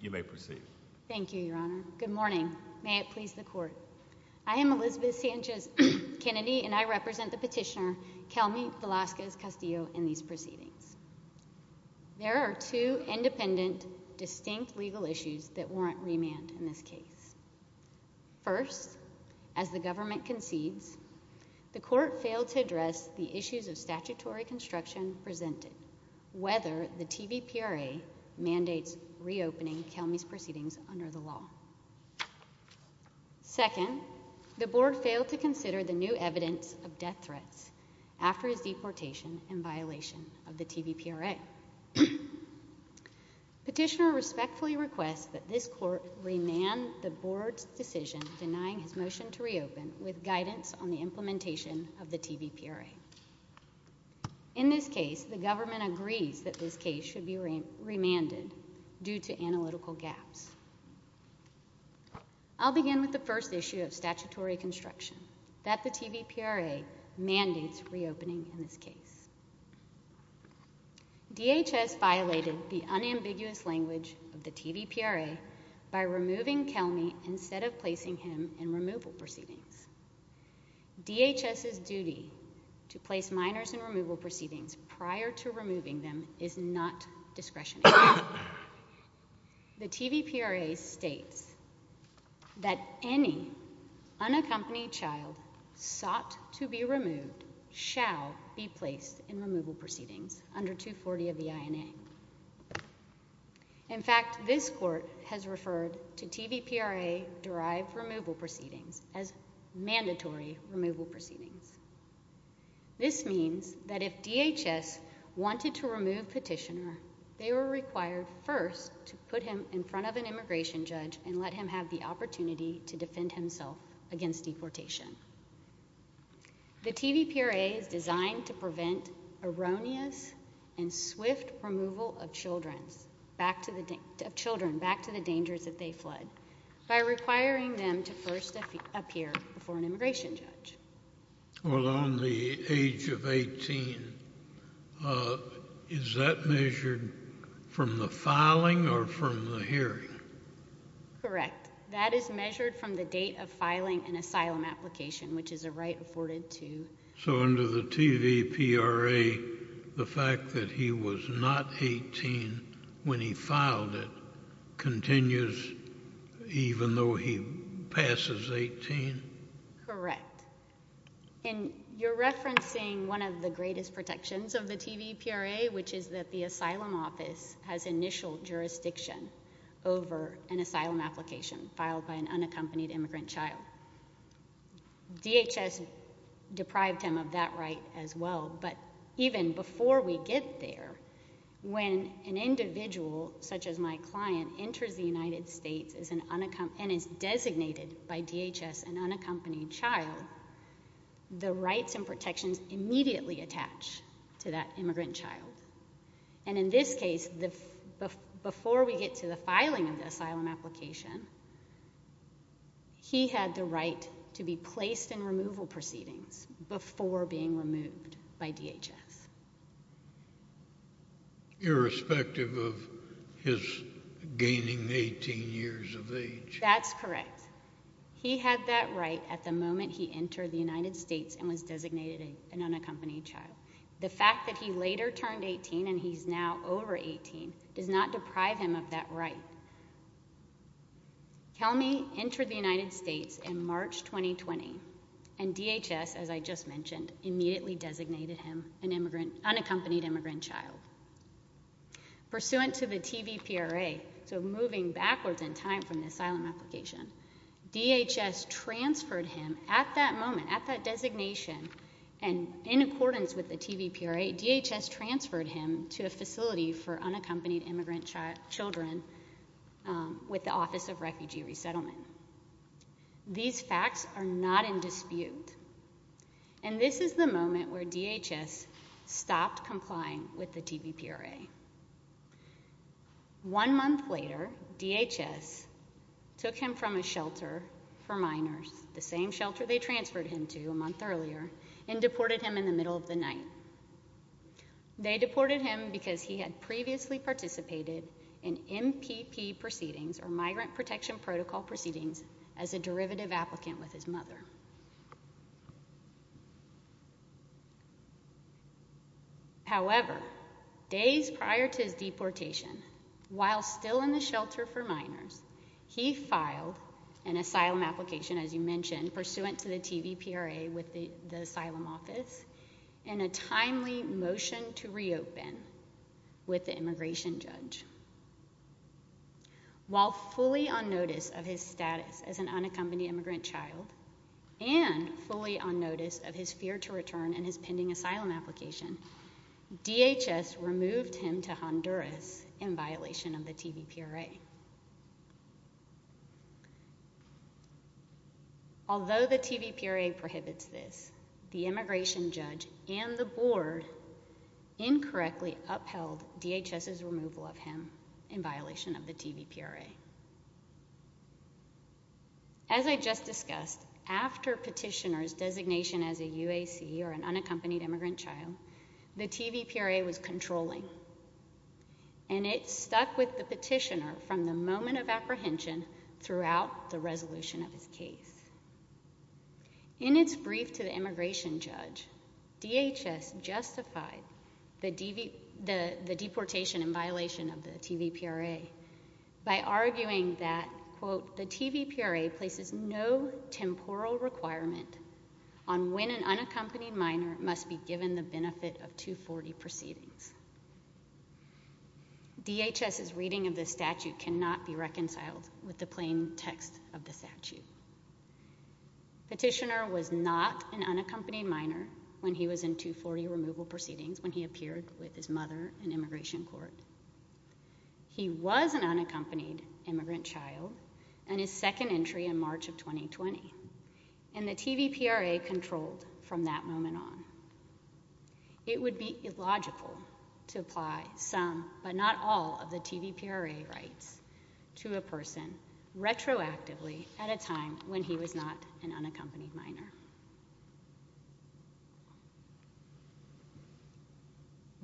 You may proceed. Thank you, Your Honor. Good morning. May it please the Court. I am Elizabeth Sanchez Kennedy, and I represent the petitioner, Kelmy Velasquez-Castillo, in these proceedings. There are two independent, distinct legal issues that warrant remand in this case. First, as the government concedes, the Court failed to address the issues of statutory construction presented, whether the TVPRA mandates reopening Kelmy's proceedings under the law. Second, the Board failed to consider the new evidence of death threats after his deportation in violation of the TVPRA. Petitioner respectfully requests that this Court remand the Board's decision denying his motion to reopen with guidance on the implementation of the TVPRA. In this case, the government agrees that this case should be remanded due to analytical gaps. I'll begin with the first issue of statutory construction, that the TVPRA mandates reopening in this case. DHS violated the unambiguous language of the TVPRA by removing Kelmy instead of placing him in removal proceedings. DHS's duty to place minors in removal proceedings prior to removing them is not discretionary. The TVPRA states that any unaccompanied child sought to be removed shall be placed in removal proceedings under 240 of the INA. In fact, this Court has referred to TVPRA-derived removal proceedings as mandatory removal proceedings. This means that if DHS wanted to remove Petitioner, they were required first to put him in front of an immigration judge and let him have the opportunity to defend himself against deportation. The TVPRA is designed to prevent erroneous and swift removal of children back to the dangers that they fled by requiring them to first appear before an immigration judge. Well, on the age of 18, is that measured from the filing or from the hearing? Correct. That is measured from the date of filing an asylum application, which is a right afforded to... So under the TVPRA, the fact that he was not 18 when he filed it continues even though he passes 18? Correct. And you're referencing one of the greatest protections of the TVPRA, which is that the an unaccompanied immigrant child. DHS deprived him of that right as well, but even before we get there, when an individual such as my client enters the United States and is designated by DHS an unaccompanied child, the rights and protections immediately attach to that immigrant child. And in this case, before we get to the filing of the asylum application, he had the right to be placed in removal proceedings before being removed by DHS. Irrespective of his gaining 18 years of age. That's correct. He had that right at the moment he entered the United States and was designated an unaccompanied child. The fact that he later turned 18 and he's now over 18 does not deprive him of that right. Kelmy entered the United States in March 2020 and DHS, as I just mentioned, immediately designated him an unaccompanied immigrant child. Pursuant to the TVPRA, so moving backwards in time from the asylum application, DHS transferred him at that moment, at that designation, and in accordance with the TVPRA, DHS transferred him to a facility for unaccompanied immigrant children with the Office of Refugee Resettlement. These facts are not in dispute. And this is the moment where DHS stopped complying with the TVPRA. One month later, DHS took him from a shelter for minors, the same shelter they transferred him to a month earlier, and deported him in the middle of the night. They deported him because he had previously participated in MPP proceedings, or Migrant Protection Protocol proceedings, as a derivative applicant with his mother. However, days prior to his deportation, while still in the shelter for minors, he filed an asylum application, as you mentioned, pursuant to the TVPRA with the asylum office, and a timely motion to reopen with the immigration judge. While fully on notice of his status as an unaccompanied immigrant child, DHS did not And fully on notice of his fear to return and his pending asylum application, DHS removed him to Honduras in violation of the TVPRA. Although the TVPRA prohibits this, the immigration judge and the board incorrectly upheld DHS's removal of him in violation of the TVPRA. As I just discussed, after petitioner's designation as a UAC, or an unaccompanied immigrant child, the TVPRA was controlling, and it stuck with the petitioner from the moment of apprehension throughout the resolution of his case. In its brief to the immigration judge, DHS justified the deportation in violation of the TVPRA by arguing that, quote, the TVPRA places no temporal requirement on when an unaccompanied minor must be given the benefit of 240 proceedings. DHS's reading of this statute cannot be reconciled with the plain text of the statute. Petitioner was not an unaccompanied minor when he was in 240 removal proceedings when he appeared with his mother in immigration court. He was an unaccompanied immigrant child in his second entry in March of 2020, and the TVPRA controlled from that moment on. It would be illogical to apply some, but not all, of the TVPRA rights to a person retroactively at a time when he was not an unaccompanied minor.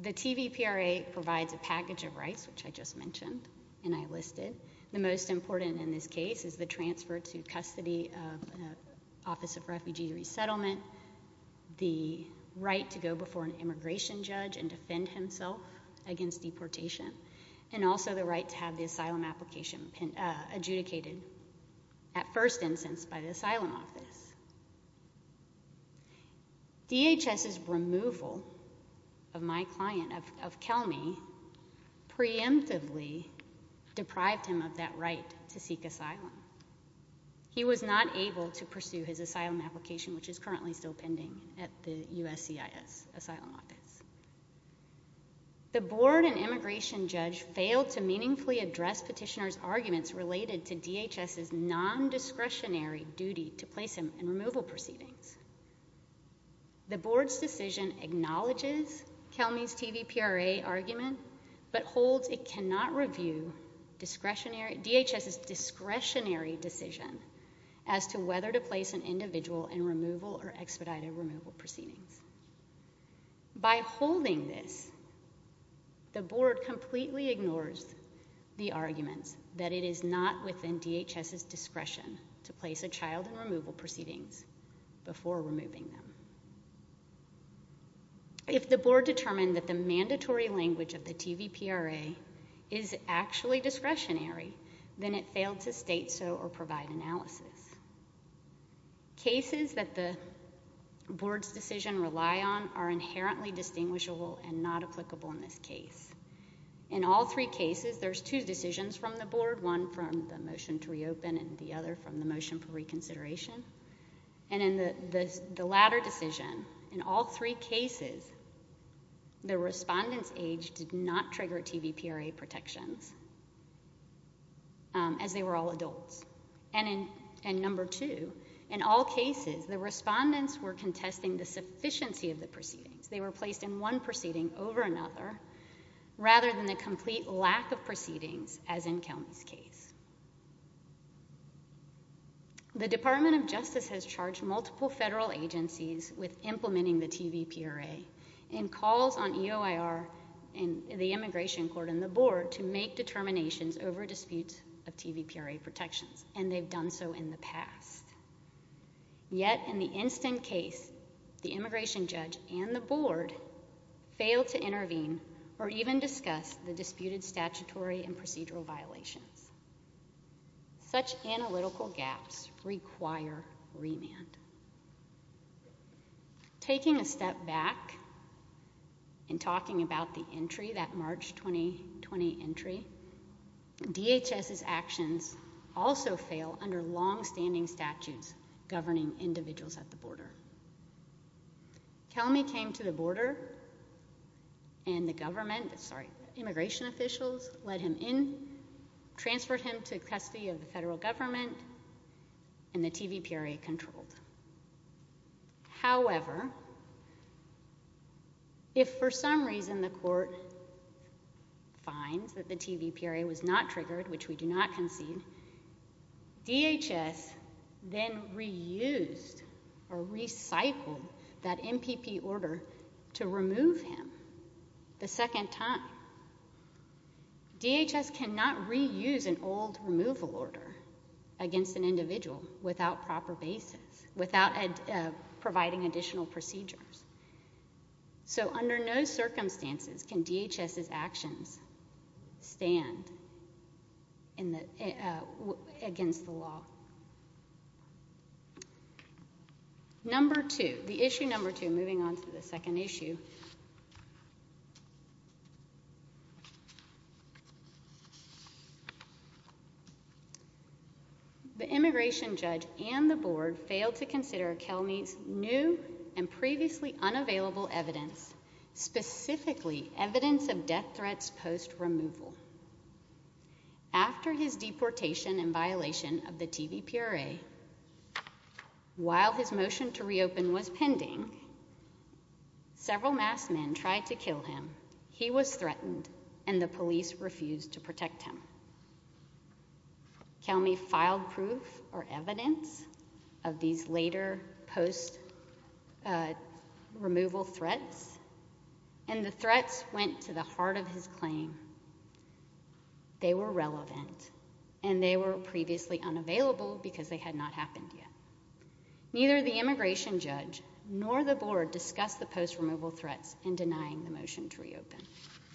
The TVPRA provides a package of rights, which I just mentioned and I listed. The most important in this case is the transfer to custody of the Office of Refugee Resettlement, the right to go before an immigration judge and defend himself against deportation, and also the right to have the asylum application adjudicated, at first instance, by the asylum office. DHS's removal of my client, of Kelmy, preemptively deprived him of that right to seek asylum. He was not able to pursue his asylum application, which is currently still pending at the USCIS asylum office. The board and immigration judge failed to meaningfully address petitioner's arguments related to DHS's non-discretionary duty to place him in removal proceedings. The board's decision acknowledges Kelmy's TVPRA argument, but holds it cannot review DHS's discretionary decision as to whether to place an individual in removal or expedited removal proceedings. By holding this, the board completely ignores the arguments that it is not within DHS's discretion to place a child in removal proceedings before removing them. If the board determined that the mandatory language of the TVPRA is actually discretionary, then it failed to state so or provide analysis. Cases that the board's decision rely on are inherently distinguishable and not applicable in this case. In all three cases, there's two decisions from the board, one from the motion to reopen and the other from the motion for reconsideration. And in the latter decision, in all three cases, the respondent's age did not trigger TVPRA protections, as they were all adults. And number two, in all cases, the respondents were contesting the sufficiency of the proceedings. They were placed in one proceeding over another rather than the complete lack of proceedings as in Kelmy's case. The Department of Justice has charged multiple federal agencies with implementing the TVPRA in calls on EOIR and the immigration court and the board to make determinations over disputes of TVPRA protections, and they've done so in the past. Yet, in the instant case, the immigration judge and the board failed to intervene or even discuss the disputed statutory and procedural violations. Such analytical gaps require remand. Taking a step back and talking about the entry, that March 2020 entry, DHS's actions also fail under longstanding statutes governing individuals at the border. Kelmy came to the border and the government, sorry, immigration officials, led him in, transferred him to custody of the federal government, and the TVPRA controlled. However, if for some reason the court finds that the TVPRA was not triggered, which we do not concede, DHS then reused or recycled that MPP order to remove him the second time. DHS cannot reuse an old removal order against an individual without proper basis, without providing additional procedures. So under no circumstances can DHS's actions stand against the law. Number two, the issue number two, moving on to the second issue, the immigration judge and the board failed to consider Kelmy's new and previously unavailable evidence, specifically evidence of death threats post-removal. After his deportation in violation of the TVPRA, while his motion to reopen was pending, several masked men tried to kill him. He was threatened, and the police refused to protect him. Kelmy filed proof or evidence of these later post-removal threats, and the threats went to the heart of his claim. They were relevant, and they were previously unavailable because they had not happened yet. Neither the immigration judge nor the board discussed the post-removal threats in denying the motion to reopen.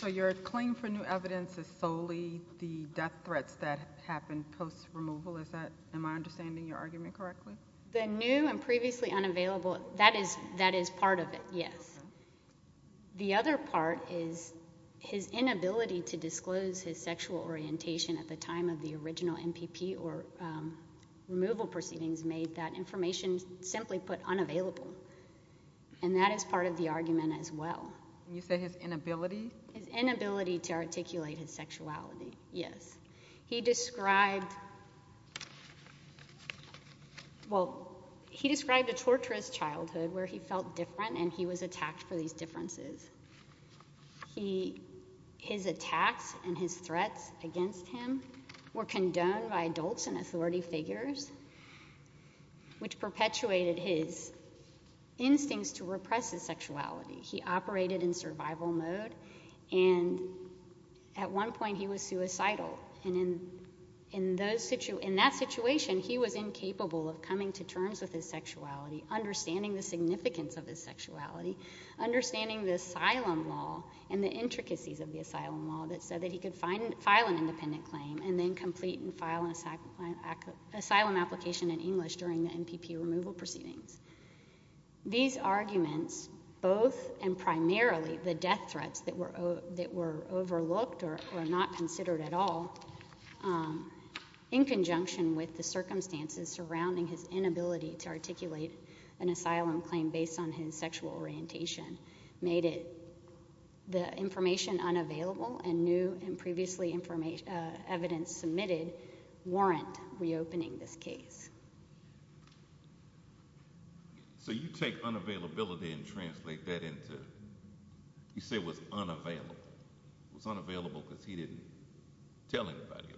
So your claim for new evidence is solely the death threats that happened post-removal, is that, am I understanding your argument correctly? The new and previously unavailable, that is part of it, yes. The other part is his inability to disclose his sexual orientation at the time of the original MPP or removal proceedings made that information simply put unavailable, and that is part of the argument as well. You say his inability? His inability to articulate his sexuality, yes. He described, well, he described a torturous childhood where he felt different and he was attacked for these differences. His attacks and his threats against him were condoned by adults and authority figures, which perpetuated his instincts to repress his sexuality. He operated in survival mode, and at one point he was suicidal. And in that situation, he was incapable of coming to terms with his sexuality, understanding the significance of his sexuality, understanding the asylum law and the intricacies of the asylum law that said that he could file an independent claim and then complete and file an asylum application in English during the MPP removal proceedings. These arguments, both and primarily the death threats that were overlooked or not considered at all, in conjunction with the circumstances surrounding his inability to articulate an asylum claim based on his sexual orientation, made it the information unavailable and new and previously evidence submitted warrant reopening this case. So you take unavailability and translate that into, you say it was unavailable. It was unavailable because he didn't tell anybody about it.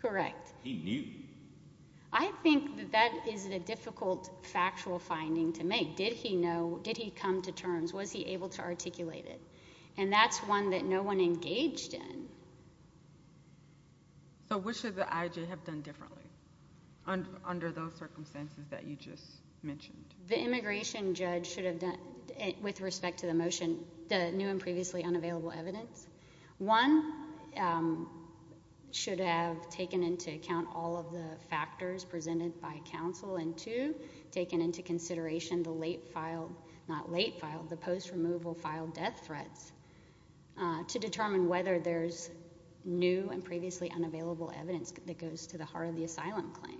Correct. He knew. I think that that is a difficult factual finding to make. Did he know? Did he come to terms? Was he able to articulate it? And that's one that no one engaged in. So what should the IJ have done differently under those circumstances that you just mentioned? The immigration judge should have done, with respect to the motion, the new and previously unavailable evidence. One, should have taken into account all of the factors presented by counsel, and two, taken into consideration the late filed, not late filed, the post removal filed death threats to determine whether there's new and previously unavailable evidence that goes to the heart of the asylum claim.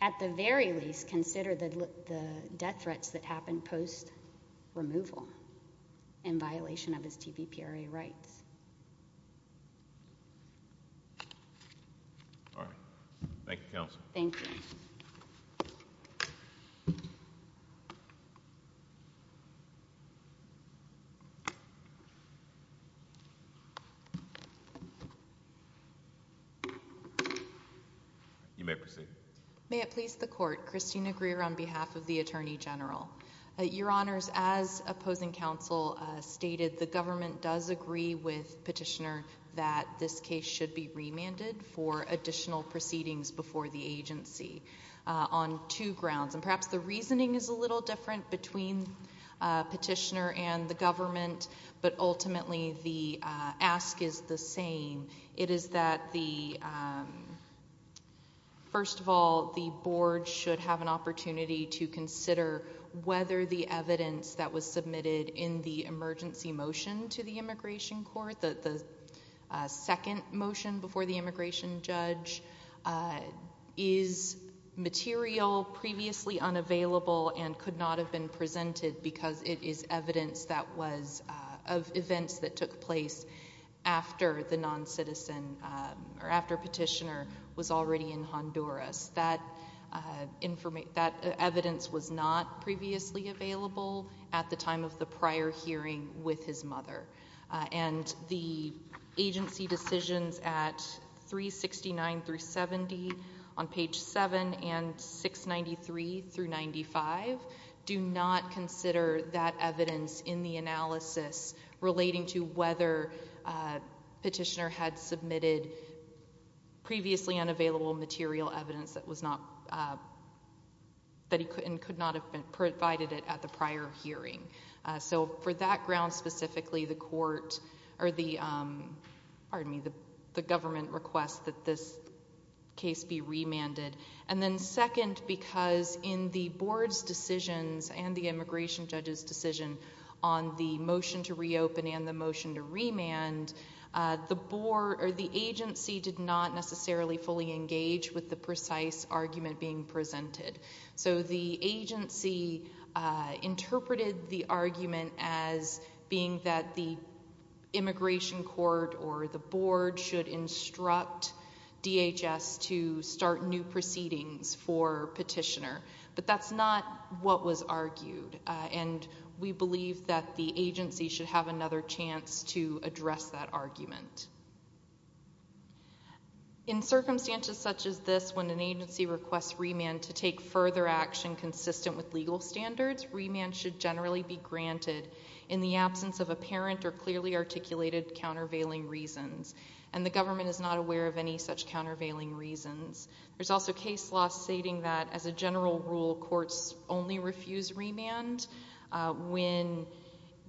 At the very least, consider the death threats that happened post removal in violation of STVPRA rights. All right. Thank you, counsel. Thank you. You may proceed. May it please the court. Christina Greer on behalf of the Attorney General. Your Honors, as opposing counsel stated, the government does agree with Petitioner that this case should be remanded for additional proceedings before the agency on two grounds. And perhaps the reasoning is a little different between Petitioner and the government, but ultimately the ask is the same. It is that the, first of all, the board should have an opportunity to consider whether the evidence that was submitted in the emergency motion to the immigration court, the second motion before the immigration judge, is material, previously unavailable, and could not have been presented because it is evidence that was of events that took place after the non-citizen or after Petitioner was already in Honduras. That evidence was not previously available at the time of the prior hearing with his mother. And the agency decisions at 369 through 70 on page 7 and 693 through 95 do not consider that evidence in the analysis relating to whether Petitioner had submitted previously unavailable material evidence that was not, that he could not have provided it at the prior hearing. So, for that ground specifically, the court, or the, pardon me, the government requests that this case be remanded. And then second, because in the board's decisions and the immigration judge's decision on the motion to reopen and the motion to remand, the agency did not necessarily fully engage with the precise argument being presented. So, the agency interpreted the argument as being that the immigration court or the board should instruct DHS to start new proceedings for Petitioner. But that's not what was argued. And we believe that the agency should have another chance to address that argument. In circumstances such as this, when an agency requests remand to take further action consistent with legal standards, remand should generally be granted in the absence of apparent or clearly articulated countervailing reasons. And the government is not aware of any such countervailing reasons. There's also case law stating that, as a general rule, courts only refuse remand when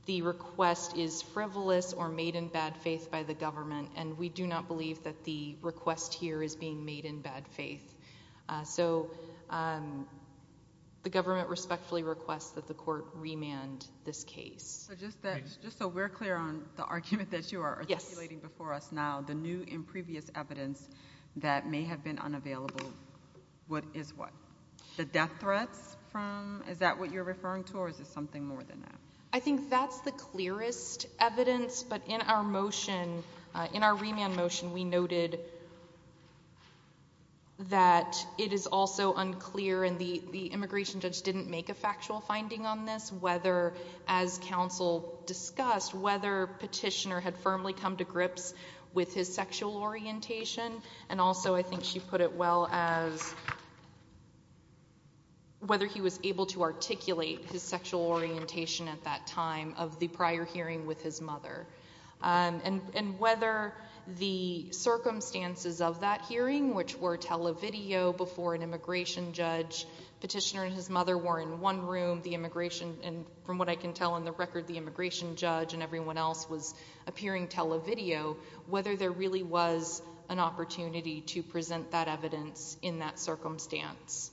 the request is frivolous or made in bad faith by the government. And we do not believe that the request here is being made in bad faith. So, the government respectfully requests that the court remand this case. So, just so we're clear on the argument that you are articulating before us now, the new and previous evidence that may have been unavailable is what? The death threats from, is that what you're referring to, or is it something more than that? I think that's the clearest evidence. But in our motion, in our remand motion, we noted that it is also unclear, and the immigration judge didn't make a factual finding on this, whether, as counsel discussed, whether Petitioner had firmly come to grips with his sexual orientation. And also, I think she put it well as whether he was able to articulate his sexual orientation at that time of the prior hearing with his mother. And whether the circumstances of that hearing, which were televideo before an immigration judge, Petitioner and his mother were in one room, the immigration, and from what I can tell in the record, the immigration judge and everyone else was appearing televideo, whether there really was an opportunity to present that evidence in that circumstance.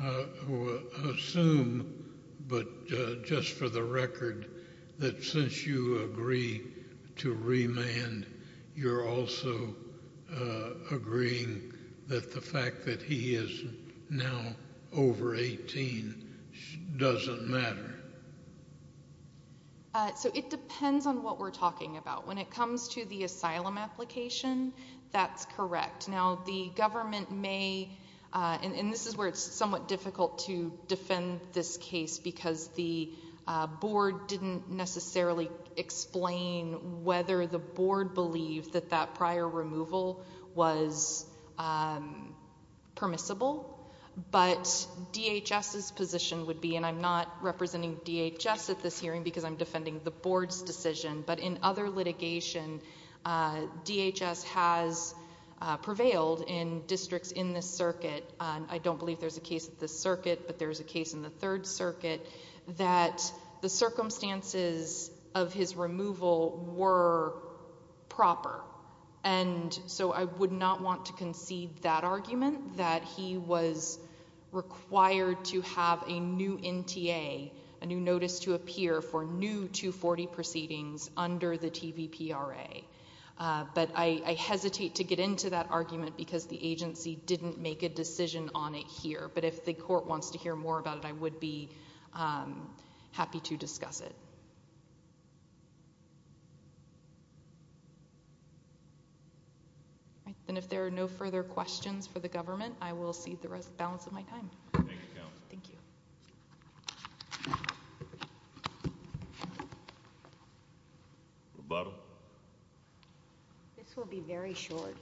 I assume, but just for the record, that since you agree to remand, you're also agreeing that the fact that he is now over 18 doesn't matter? So it depends on what we're talking about. When it comes to the asylum application, that's correct. Now, the government may, and this is where it's somewhat difficult to defend this case because the board didn't necessarily explain whether the board believed that that prior hearing because I'm defending the board's decision. But in other litigation, DHS has prevailed in districts in this circuit. I don't believe there's a case in this circuit, but there is a case in the Third Circuit that the circumstances of his removal were proper. And so I would not want to concede that argument, that he was required to have a new NTA, a new notice to appear for new 240 proceedings under the TVPRA. But I hesitate to get into that argument because the agency didn't make a decision on it here. But if the court wants to hear more about it, I would be happy to discuss it. And if there are no further questions for the government, I will cede the balance of my time. Thank you, Counsel. Thank you. Rebuttal. This will be very short,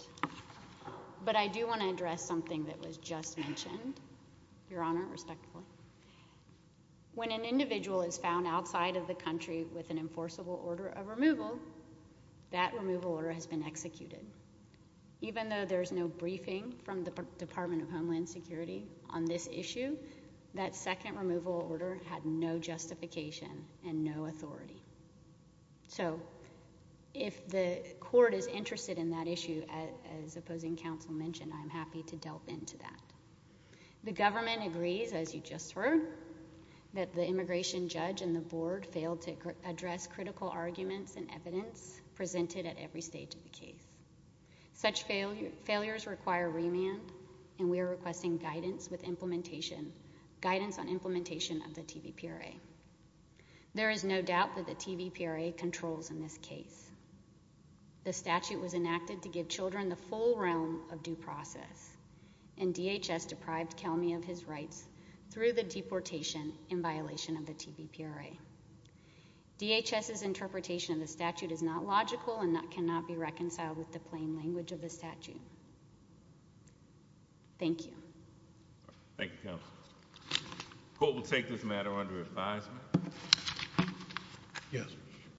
but I do want to address something that was just mentioned, Your Honor, respectfully. When an individual is found outside of the country with an enforceable order of removal, that removal order has been executed. Even though there's no briefing from the Department of Homeland Security on this issue, that second removal order had no justification and no authority. So if the court is interested in that issue, as Opposing Counsel mentioned, I'm happy to delve into that. The government agrees, as you just heard, that the immigration judge and the board failed to address critical arguments and evidence presented at every stage of the case. Such failures require remand, and we are requesting guidance on implementation of the TVPRA. There is no doubt that the TVPRA controls in this case. The statute was enacted to give children the full realm of due process, and DHS deprived Kelmy of his rights through the deportation in violation of the TVPRA. DHS's interpretation of the statute is not logical and cannot be reconciled with the plain language of the statute. Thank you. Thank you, Counsel. The court will take this matter under advisement. Yes.